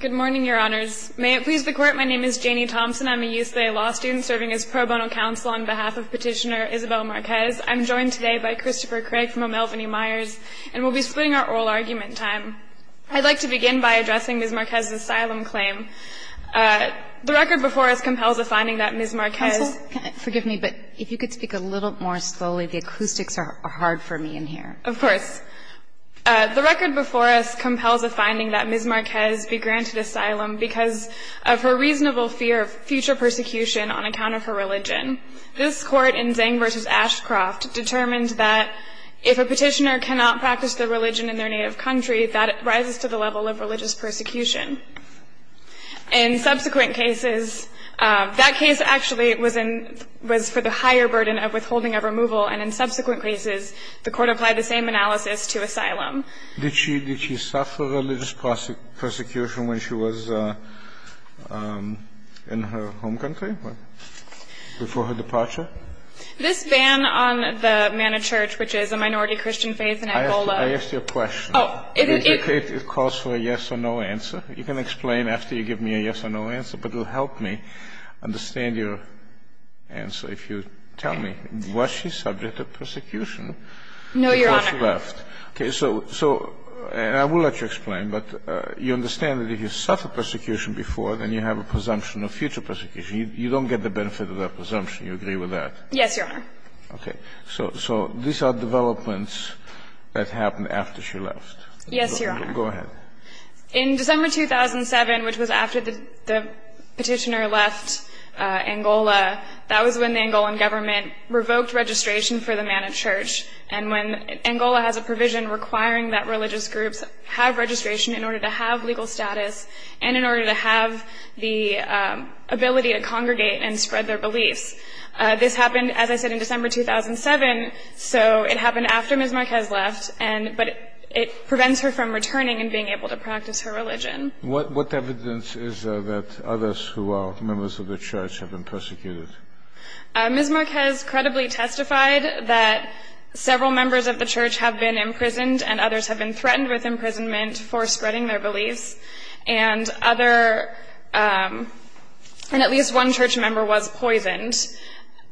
Good morning, Your Honors. May it please the Court, my name is Janie Thompson. I'm a UCLA law student serving as pro bono counsel on behalf of Petitioner Isabel Marques. I'm joined today by Christopher Craig from O'Melveny Myers, and we'll be splitting our oral argument time. I'd like to begin by addressing Ms. Marques' asylum claim. The record before us compels a finding that Ms. Marques Counsel, forgive me, but if you could speak a little more slowly, the acoustics are hard for me in here. Of course. The record before us compels a finding that Ms. Marques be granted asylum because of her reasonable fear of future persecution on account of her religion. This Court in Zhang v. Ashcroft determined that if a petitioner cannot practice their religion in their native country, that it rises to the level of religious persecution. In subsequent cases, that case actually was for the higher burden of withholding of removal, and in subsequent cases, the Court applied the same analysis to asylum. Did she suffer religious persecution when she was in her home country? Before her departure? This ban on the Manor Church, which is a minority Christian faith in Angola I asked you a question. Oh. It calls for a yes or no answer. You can explain after you give me a yes or no answer, but it will help me understand your answer if you tell me, was she subject to persecution before she left? No, Your Honor. Okay. So, and I will let you explain, but you understand that if you suffered persecution before, then you have a presumption of future persecution. You don't get the benefit of that presumption. You agree with that? Yes, Your Honor. Okay. So these are developments that happened after she left. Yes, Your Honor. Go ahead. In December 2007, which was after the petitioner left Angola, that was when the Angolan government revoked registration for the Manor Church, and when Angola has a provision requiring that religious groups have registration in order to have legal status and in order to have the ability to congregate and spread their beliefs. This happened, as I said, in December 2007, so it happened after Ms. Marquez left, but it prevents her from returning and being able to practice her religion. What evidence is there that others who are members of the church have been persecuted? Ms. Marquez credibly testified that several members of the church have been imprisoned and others have been threatened with imprisonment for spreading their beliefs, and at least one church member was poisoned.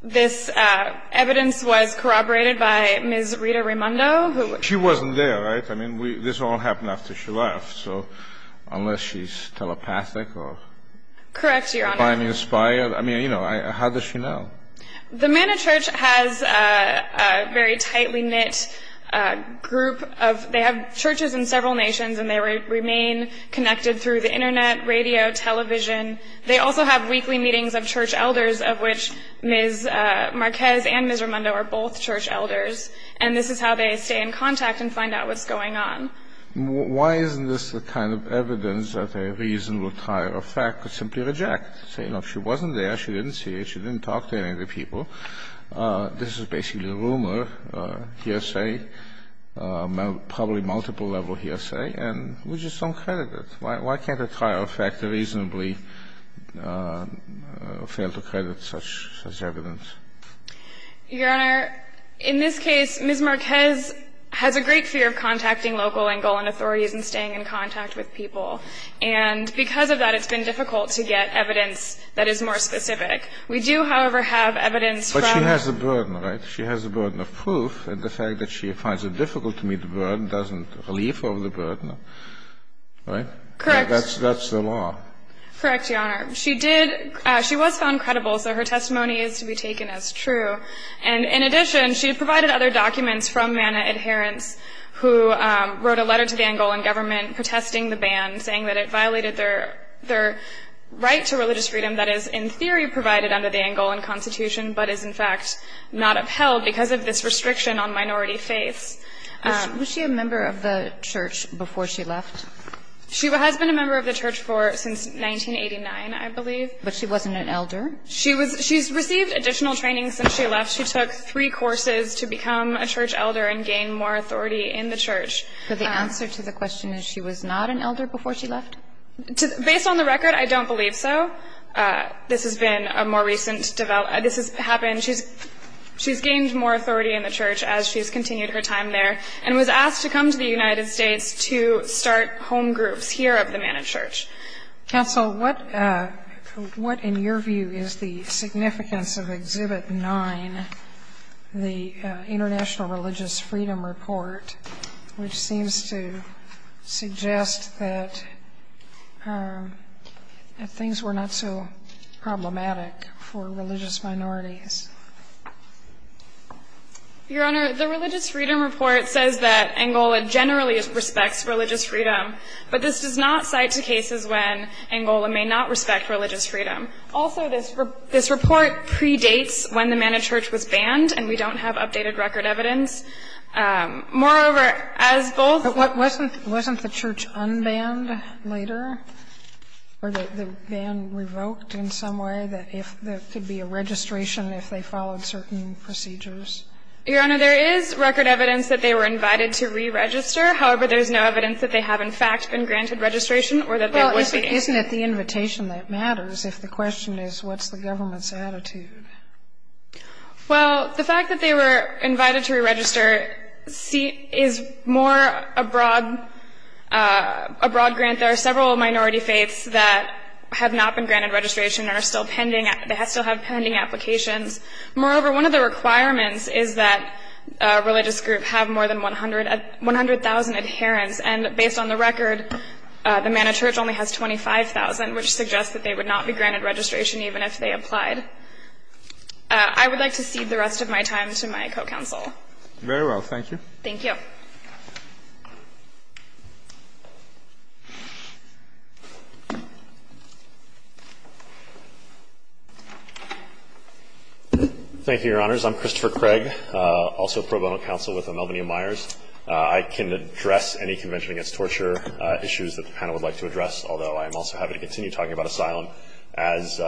This evidence was corroborated by Ms. Rita Raimondo, who She wasn't there, right? I mean, this all happened after she left. So unless she's telepathic or Correct, Your Honor. I mean, you know, how does she know? The Manor Church has a very tightly knit group of they have churches in several nations and they remain connected through the internet, radio, television. They also have weekly meetings of church elders, of which Ms. Marquez and Ms. Raimondo are both church elders, and this is how they stay in contact and find out what's going on. Why isn't this the kind of evidence that a reasonable trial of fact could simply reject? Say, look, she wasn't there, she didn't see it, she didn't talk to any of the people. This is basically a rumor, hearsay, probably multiple-level hearsay, and we just don't credit it. Why can't a trial of fact reasonably fail to credit such evidence? Your Honor, in this case, Ms. Marquez has a great fear of contacting local and Golan authorities and staying in contact with people. And because of that, it's been difficult to get evidence that is more specific. We do, however, have evidence from But she has a burden, right? She has a burden of proof, and the fact that she finds it difficult to meet the burden doesn't relieve her of the burden, right? Correct. That's the law. Correct, Your Honor. She was found credible, so her testimony is to be taken as true. And in addition, she provided other documents from MANA adherents who wrote a letter to the Angolan government protesting the ban, saying that it violated their right to religious freedom that is, in theory, provided under the Angolan Constitution, but is, in fact, not upheld because of this restriction on minority faiths. Was she a member of the church before she left? She has been a member of the church since 1989, I believe. But she wasn't an elder? She's received additional training since she left. She took three courses to become a church elder and gain more authority in the church. So the answer to the question is she was not an elder before she left? Based on the record, I don't believe so. This has been a more recent development. This has happened. She's gained more authority in the church as she's continued her time there and was asked to come to the United States to start home groups here of the MANA church. Counsel, what, in your view, is the significance of Exhibit 9, the International Religious Freedom Report, which seems to suggest that things were not so problematic for religious minorities? Your Honor, the Religious Freedom Report says that Angola generally respects religious freedom, but this does not cite to cases when Angola may not respect religious freedom. Also, this report predates when the MANA church was banned, and we don't have updated record evidence. Moreover, as both of these cases are related to religious freedom, there is record evidence that they were invited to re-register. However, there is no evidence that they have, in fact, been granted registration or that they would be. Isn't it the invitation that matters if the question is what's the government's attitude? Well, the fact that they were invited to re-register is more a broad grant. There are several minority faiths that have not been granted registration and still have pending applications. Moreover, one of the requirements is that a religious group have more than 100,000 adherents, and based on the record, the MANA church only has 25,000, which suggests that they would not be granted registration even if they applied. I would like to cede the rest of my time to my co-counsel. Very well. Thank you. Thank you. Thank you, Your Honors. I'm Christopher Craig, also pro bono counsel with Elmenia Myers. I can address any Convention Against Torture issues that the panel would like to address, although I am also happy to continue talking about asylum. As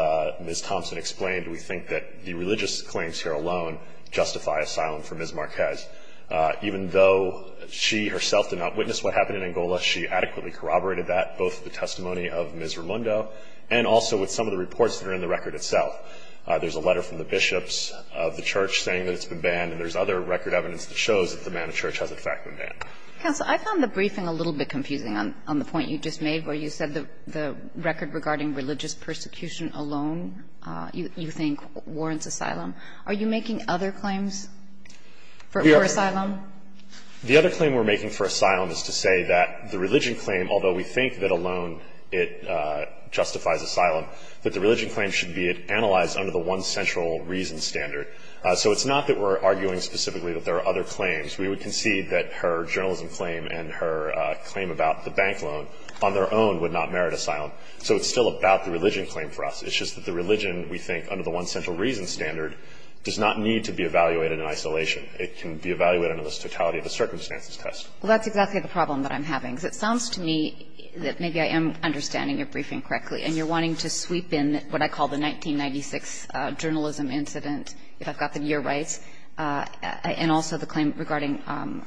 Ms. Thompson explained, we think that the religious claims here alone justify asylum for Ms. Marquez. Even though she herself did not witness what happened in Angola, she adequately corroborated that, both the testimony of Ms. Ramundo and also with some of the reports that are in the record itself. There's a letter from the bishops of the church saying that it's been banned, and there's other record evidence that shows that the MANA church has, in fact, been banned. Counsel, I found the briefing a little bit confusing on the point you just made where you said the record regarding religious persecution alone, you think, warrants asylum. Are you making other claims for asylum? The other claim we're making for asylum is to say that the religion claim, although we think that alone it justifies asylum, that the religion claim should be analyzed under the one central reason standard. So it's not that we're arguing specifically that there are other claims. We would concede that her journalism claim and her claim about the bank loan, on their own, would not merit asylum. So it's still about the religion claim for us. It's just that the religion, we think, under the one central reason standard, does not need to be evaluated in isolation. It can be evaluated under the totality of the circumstances test. Well, that's exactly the problem that I'm having. Because it sounds to me that maybe I am understanding your briefing correctly and you're wanting to sweep in what I call the 1996 journalism incident, if I've got the year right, and also the claim regarding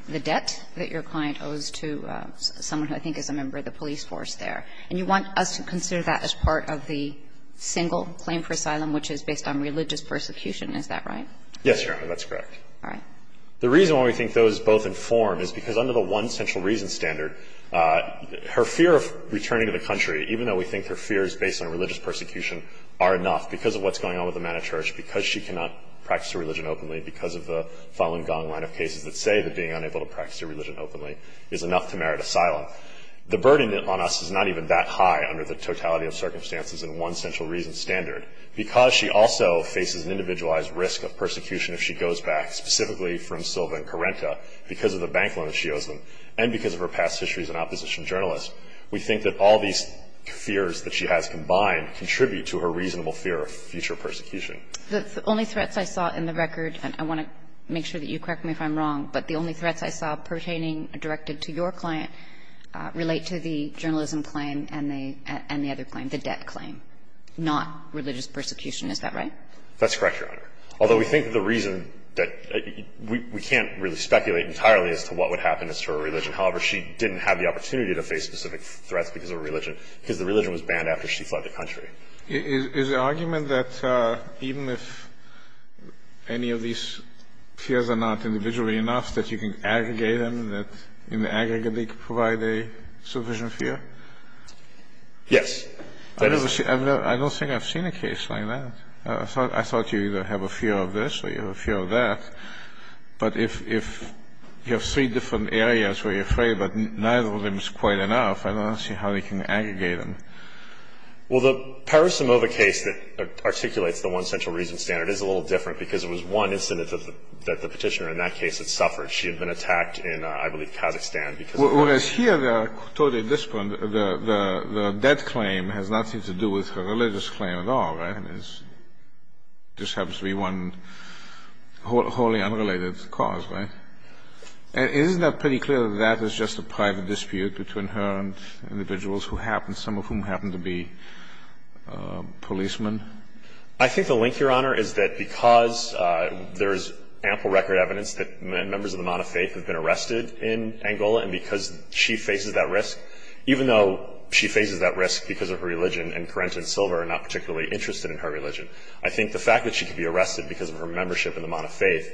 the debt that your client owes to someone who I think is a member of the police force there. And you want us to consider that as part of the single claim for asylum, which is based on religious persecution. Yes, Your Honor. That's correct. All right. The reason why we think those both inform is because under the one central reason standard, her fear of returning to the country, even though we think her fear is based on religious persecution, are enough. Because of what's going on with the man of church, because she cannot practice her religion openly, because of the Falun Gong line of cases that say that being unable to practice your religion openly is enough to merit asylum. The burden on us is not even that high under the totality of circumstances and one central reason standard. Because she also faces an individualized risk of persecution if she goes back, specifically from Silva and Corenta, because of the bank loan that she owes them and because of her past history as an opposition journalist. We think that all these fears that she has combined contribute to her reasonable fear of future persecution. The only threats I saw in the record, and I want to make sure that you correct me if I'm wrong, but the only threats I saw pertaining directed to your client relate to the journalism claim and the other claim, the debt claim, not religious persecution. Is that right? That's correct, Your Honor. Although we think the reason that we can't really speculate entirely as to what would happen as to her religion. However, she didn't have the opportunity to face specific threats because of religion, because the religion was banned after she fled the country. Is the argument that even if any of these fears are not individual enough, that you can aggregate them, that in the aggregate they provide a sufficient fear? Yes. I don't think I've seen a case like that. I thought you either have a fear of this or you have a fear of that. But if you have three different areas where you're afraid, but neither of them is quite enough, I don't see how you can aggregate them. Well, the Parisimova case that articulates the one central reason standard is a little different because it was one incident that the petitioner in that case had suffered. She had been attacked in, I believe, Kazakhstan because of that. Whereas here, they are totally disparate. The debt claim has nothing to do with her religious claim at all. It just happens to be one wholly unrelated cause, right? Isn't that pretty clear that that is just a private dispute between her and individuals who happen, some of whom happen to be policemen? I think the link, Your Honor, is that because there is ample record evidence that members of the Monte faith have been arrested in Angola, and because she faces that risk, even though she faces that risk because of her religion and Corentin Silver are not particularly interested in her religion, I think the fact that she could be arrested because of her membership in the Monte faith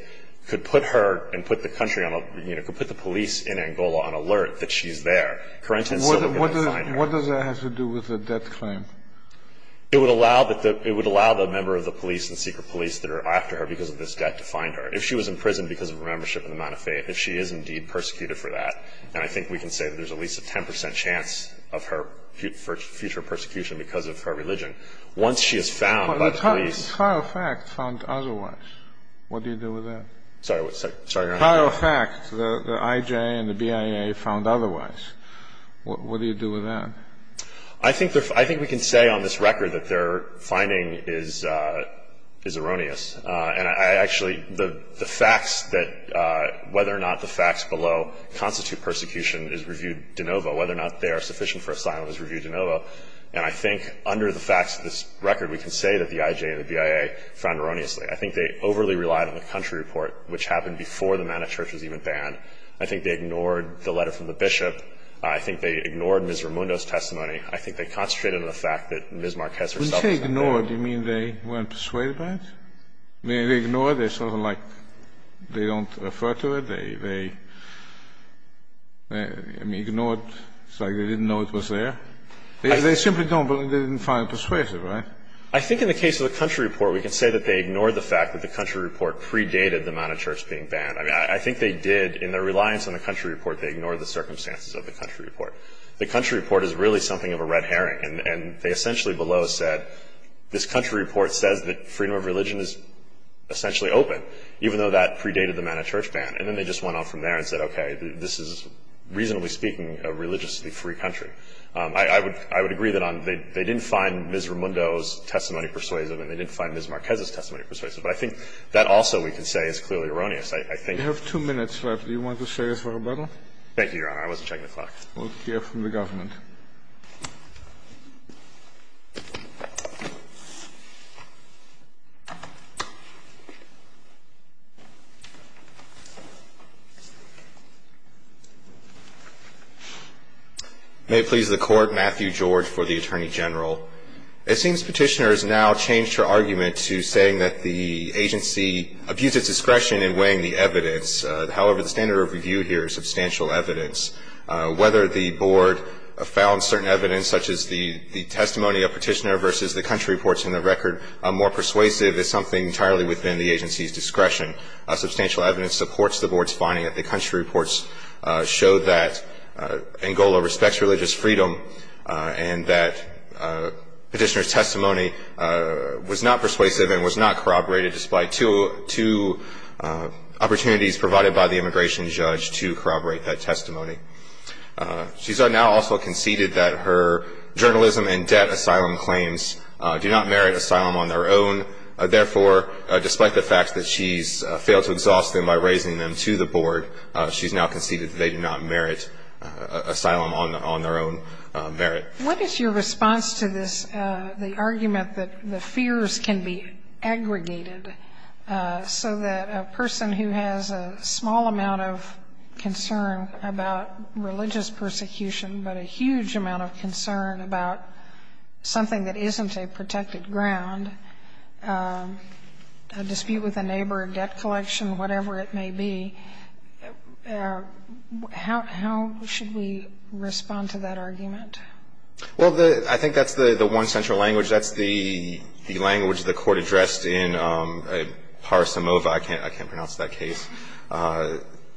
could put her and put the country on, you know, could put the police in Angola on alert that she's there. Corentin Silver could not find her. What does that have to do with the debt claim? It would allow the member of the police and secret police that are after her because of this debt to find her. If she was in prison because of her membership in the Monte faith, if she is indeed persecuted for that, then I think we can say that there is at least a 10 percent chance of her future persecution because of her religion. Once she is found by the police... But the trial fact found otherwise. What do you do with that? Sorry, Your Honor. Trial fact, the IJA and the BIA found otherwise. What do you do with that? I think we can say on this record that their finding is erroneous. And I actually, the facts that, whether or not the facts below constitute whether or not the facts of the persecution is reviewed de novo, whether or not they are sufficient for asylum is reviewed de novo. And I think under the facts of this record, we can say that the IJA and the BIA found erroneously. I think they overly relied on the country report, which happened before the man of church was even banned. I think they ignored the letter from the bishop. I think they ignored Ms. Raimundo's testimony. I think they concentrated on the fact that Ms. Marquez herself... When you say ignored, do you mean they weren't persuaded by it? They ignored it. It's sort of like they don't refer to it. They ignored it. It's like they didn't know it was there. They simply didn't find it persuasive, right? I think in the case of the country report, we can say that they ignored the fact that the country report predated the man of church being banned. I think they did. In their reliance on the country report, they ignored the circumstances of the country report. The country report is really something of a red herring. And they essentially below said, this country report says that freedom of religion is essentially open, even though that predated the man of church ban. And then they just went on from there and said, okay, this is, reasonably speaking, a religiously free country. I would agree that they didn't find Ms. Raimundo's testimony persuasive and they didn't find Ms. Marquez's testimony persuasive. But I think that also, we can say, is clearly erroneous. I think... You have two minutes left. Do you want to say something? Thank you, Your Honor. I wasn't checking the clock. We'll hear from the government. May it please the Court. Matthew George for the Attorney General. It seems Petitioner has now changed her argument to saying that the agency abused its discretion in weighing the evidence. However, the standard of review here is substantial evidence. I don't know. I don't know. We have found certain evidence, such as the testimony of Petitioner versus the country reports in the record, more persuasive than something entirely within the agency's discretion. Substantial evidence supports the Board's finding that the country reports showed that Angola respects religious freedom and that Petitioner's testimony was not persuasive and was not corroborated, despite two opportunities provided by the immigration judge to corroborate that testimony. She's now also conceded that her journalism and debt asylum claims do not merit asylum on their own. Therefore, despite the fact that she's failed to exhaust them by raising them to the Board, she's now conceded that they do not merit asylum on their own merit. What is your response to this, the argument that the fears can be aggregated so that a person who has a small amount of concern about religious persecution but a huge amount of concern about something that isn't a protected ground, a dispute with a neighbor, a debt collection, whatever it may be, how should we respond to that argument? Well, I think that's the one central language. That's the language the Court addressed in Parisimova. I can't pronounce that case.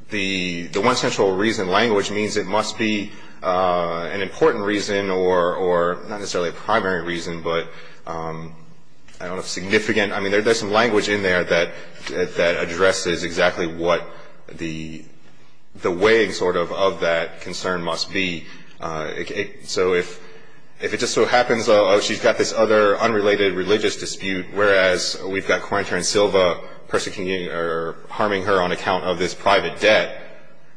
The one central reason language means it must be an important reason or not necessarily a primary reason, but I don't know, significant. I mean, there's some language in there that addresses exactly what the weighing sort of of that concern must be. So if it just so happens, oh, she's got this other unrelated religious dispute, whereas we've got Quarantine Silva harming her on account of this private debt,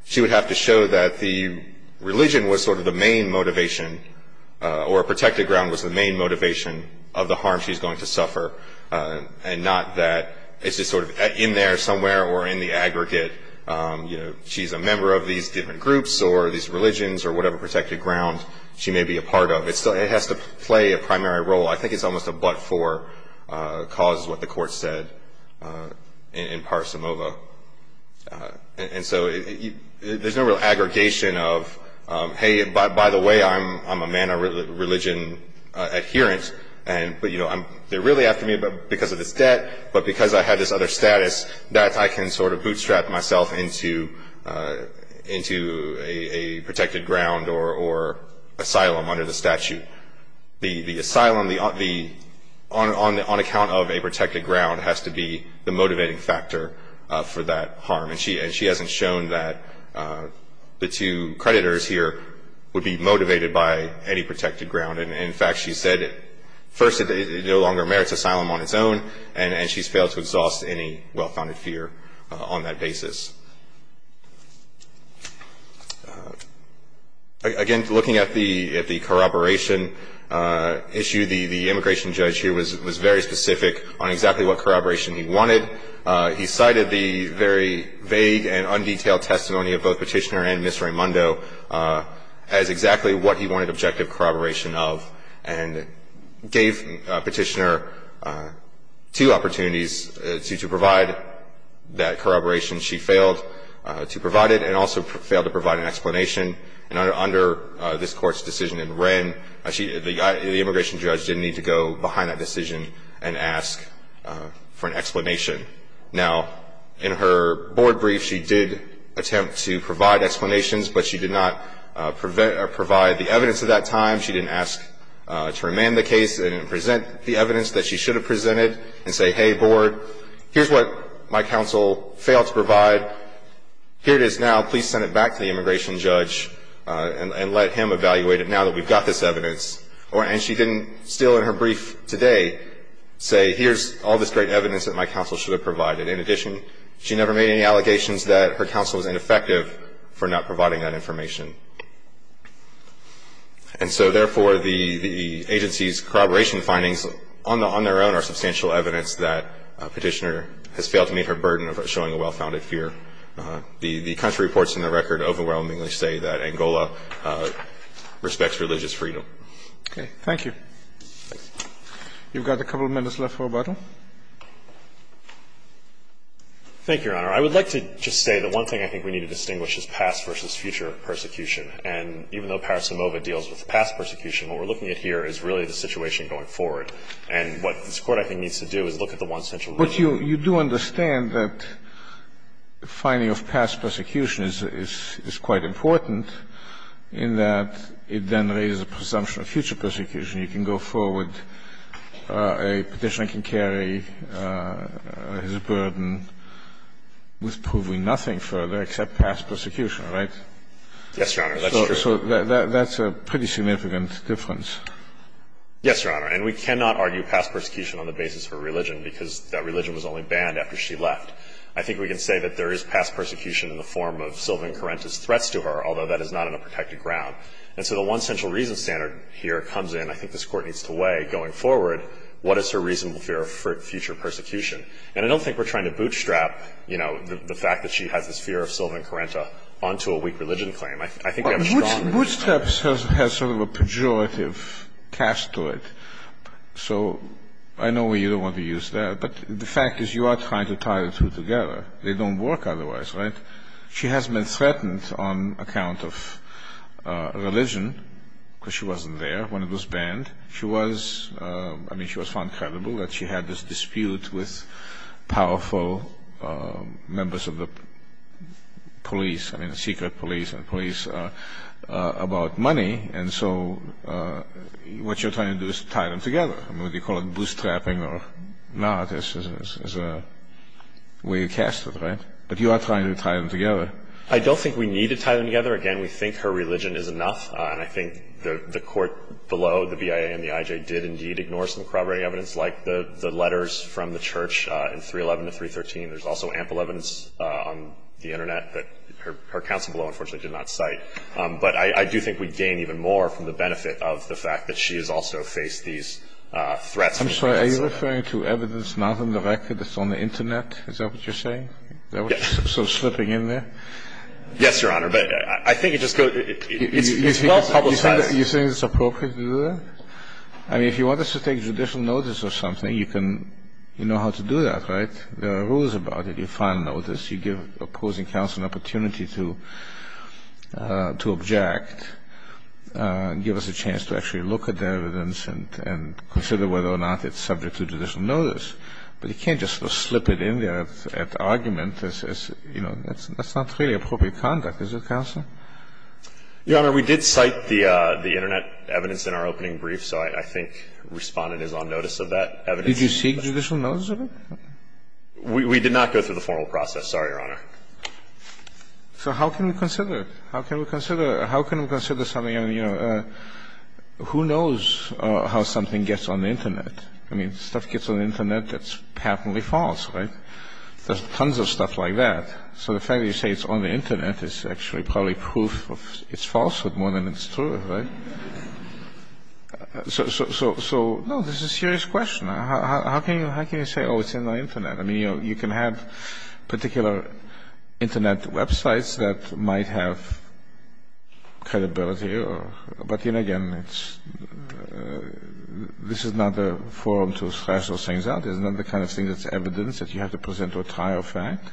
she would have to show that the religion was sort of the main motivation or a protected ground was the main motivation of the harm she's going to suffer and not that it's just sort of in there somewhere or in the aggregate. She's a member of these different groups or these religions or whatever protected ground she may be a part of. It has to play a primary role. I think it's almost a but-for cause is what the Court said in Parisimova. And so there's no real aggregation of, hey, by the way, I'm a man of religion adherence, but they're really after me because of this debt, but because I had this other status, that I can sort of bootstrap myself into a protected ground or asylum under the statute. The asylum, on account of a protected ground, has to be the motivating factor for that harm. And she hasn't shown that the two creditors here would be motivated by any protected ground. In fact, she said, first, it no longer merits asylum on its own, and she's failed to exhaust any well-founded fear on that basis. Again, looking at the corroboration issue, the immigration judge here was very specific on exactly what corroboration he wanted. He cited the very vague and undetailed testimony of both Petitioner and Ms. Raimondo as exactly what he wanted objective corroboration of and gave Petitioner two opportunities to provide that corroboration. She failed to provide it and also failed to provide an explanation. And under this Court's decision in Wren, the immigration judge didn't need to go behind that decision and ask for an explanation. Now, in her board brief, she did attempt to provide explanations, but she did not provide the evidence at that time. She didn't ask to remand the case and present the evidence that she should have presented and say, hey, board, here's what my counsel failed to provide. Here it is now. Please send it back to the immigration judge and let him evaluate it now that we've got this evidence. And she didn't, still in her brief today, say, here's all this great evidence that my counsel should have provided. In addition, she never made any allegations that her counsel was ineffective for not providing that information. And so, therefore, the agency's corroboration findings on their own are substantial evidence that Petitioner has failed to meet her burden of showing a well-founded fear. The country reports in the record overwhelmingly say that Angola respects religious freedom. Okay. Thank you. You've got a couple of minutes left for rebuttal. Thank you, Your Honor. I would like to just say that one thing I think we need to distinguish is past versus future persecution. And even though Paris-Samoa deals with past persecution, what we're looking at here is really the situation going forward. And what this Court, I think, needs to do is look at the one central reason. But you do understand that the finding of past persecution is quite important in that it then raises a presumption of future persecution. You can go forward, a Petitioner can carry his burden with proving nothing further except past persecution, right? Yes, Your Honor. That's true. So that's a pretty significant difference. Yes, Your Honor. And we cannot argue past persecution on the basis of religion because that religion was only banned after she left. I think we can say that there is past persecution in the form of Sylvan Carenta's threats to her, although that is not on a protected ground. And so the one central reason standard here comes in, I think this Court needs to weigh going forward, what is her reasonable fear of future persecution? And I don't think we're trying to bootstrap the fact that she has this fear of Sylvan Carenta onto a weak religion claim. Bootstrap has sort of a pejorative cast to it. So I know you don't want to use that. But the fact is you are trying to tie the two together. They don't work otherwise, right? She has been threatened on account of religion because she wasn't there when it was banned. She was, I mean, she was found credible that she had this dispute with powerful members of the police, I mean, the secret police and police, about money. And so what you're trying to do is tie them together. I mean, whether you call it bootstrapping or not is a way to cast it, right? But you are trying to tie them together. I don't think we need to tie them together. Again, we think her religion is enough. And I think the court below, the BIA and the IJ, did indeed ignore some corroborating evidence like the letters from the church in 311 to 313. There's also ample evidence on the Internet that her counsel below unfortunately did not cite. But I do think we gain even more from the benefit of the fact that she has also faced these threats. I'm sorry. Are you referring to evidence not on the record that's on the Internet? Is that what you're saying? Yes. So slipping in there? Yes, Your Honor. But I think it just goes, it's not publicized. You think it's appropriate to do that? I mean, if you want us to take judicial notice or something, you can, you know how to do that, right? There are rules about it. You file notice. You give opposing counsel an opportunity to object, give us a chance to actually look at the evidence and consider whether or not it's subject to judicial notice. But you can't just slip it in there at argument. That's not really appropriate conduct. Is it, counsel? Your Honor, we did cite the Internet evidence in our opening brief. So I think Respondent is on notice of that evidence. Did you seek judicial notice of it? We did not go through the formal process. Sorry, Your Honor. So how can we consider it? How can we consider it? How can we consider something? I mean, you know, who knows how something gets on the Internet? I mean, stuff gets on the Internet that's happily false, right? There's tons of stuff like that. So the fact that you say it's on the Internet is actually probably proof of its falsehood more than it's true, right? So, no, this is a serious question. How can you say, oh, it's in the Internet? I mean, you can have particular Internet websites that might have credibility or, but then again, it's, this is not a forum to splash those things out. It's not the kind of thing that's evidence that you have to present to a trial fact.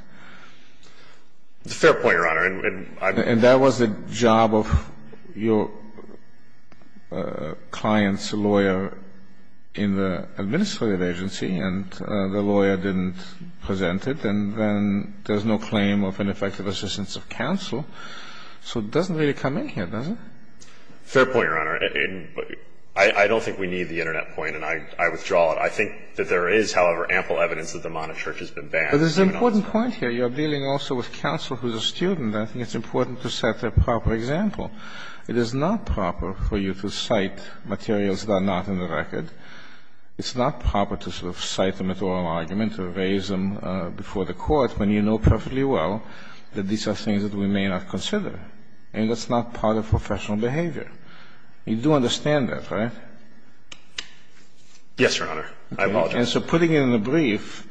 It's a fair point, Your Honor. And that was the job of your client's lawyer in the administrative agency, and the lawyer didn't present it, and then there's no claim of ineffective assistance of counsel. So it doesn't really come in here, does it? Fair point, Your Honor. I don't think we need the Internet point, and I withdraw it. I think that there is, however, ample evidence that the Monarch Church has been banned. But there's an important point here. You're dealing also with counsel who's a student. I think it's important to set the proper example. It is not proper for you to cite materials that are not in the record. It's not proper to sort of cite them at oral argument or raise them before the court when you know perfectly well that these are things that we may not consider. And that's not part of professional behavior. You do understand that, right? Yes, Your Honor. I apologize. And so putting it in the brief,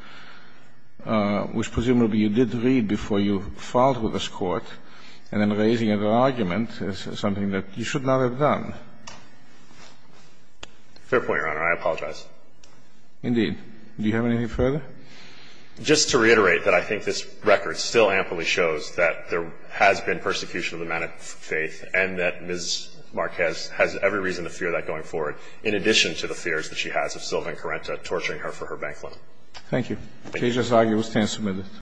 which presumably you did read before you filed with this Court, and then raising it at argument is something that you should not have done. Fair point, Your Honor. I apologize. Indeed. Do you have anything further? Just to reiterate that I think this record still amply shows that there has been persecution of the man of faith, and that Ms. Marquez has every reason to fear that going forward. In addition to the fears that she has of Sylvan Correnta torturing her for her bank loan. Thank you. Thank you. The case is argued.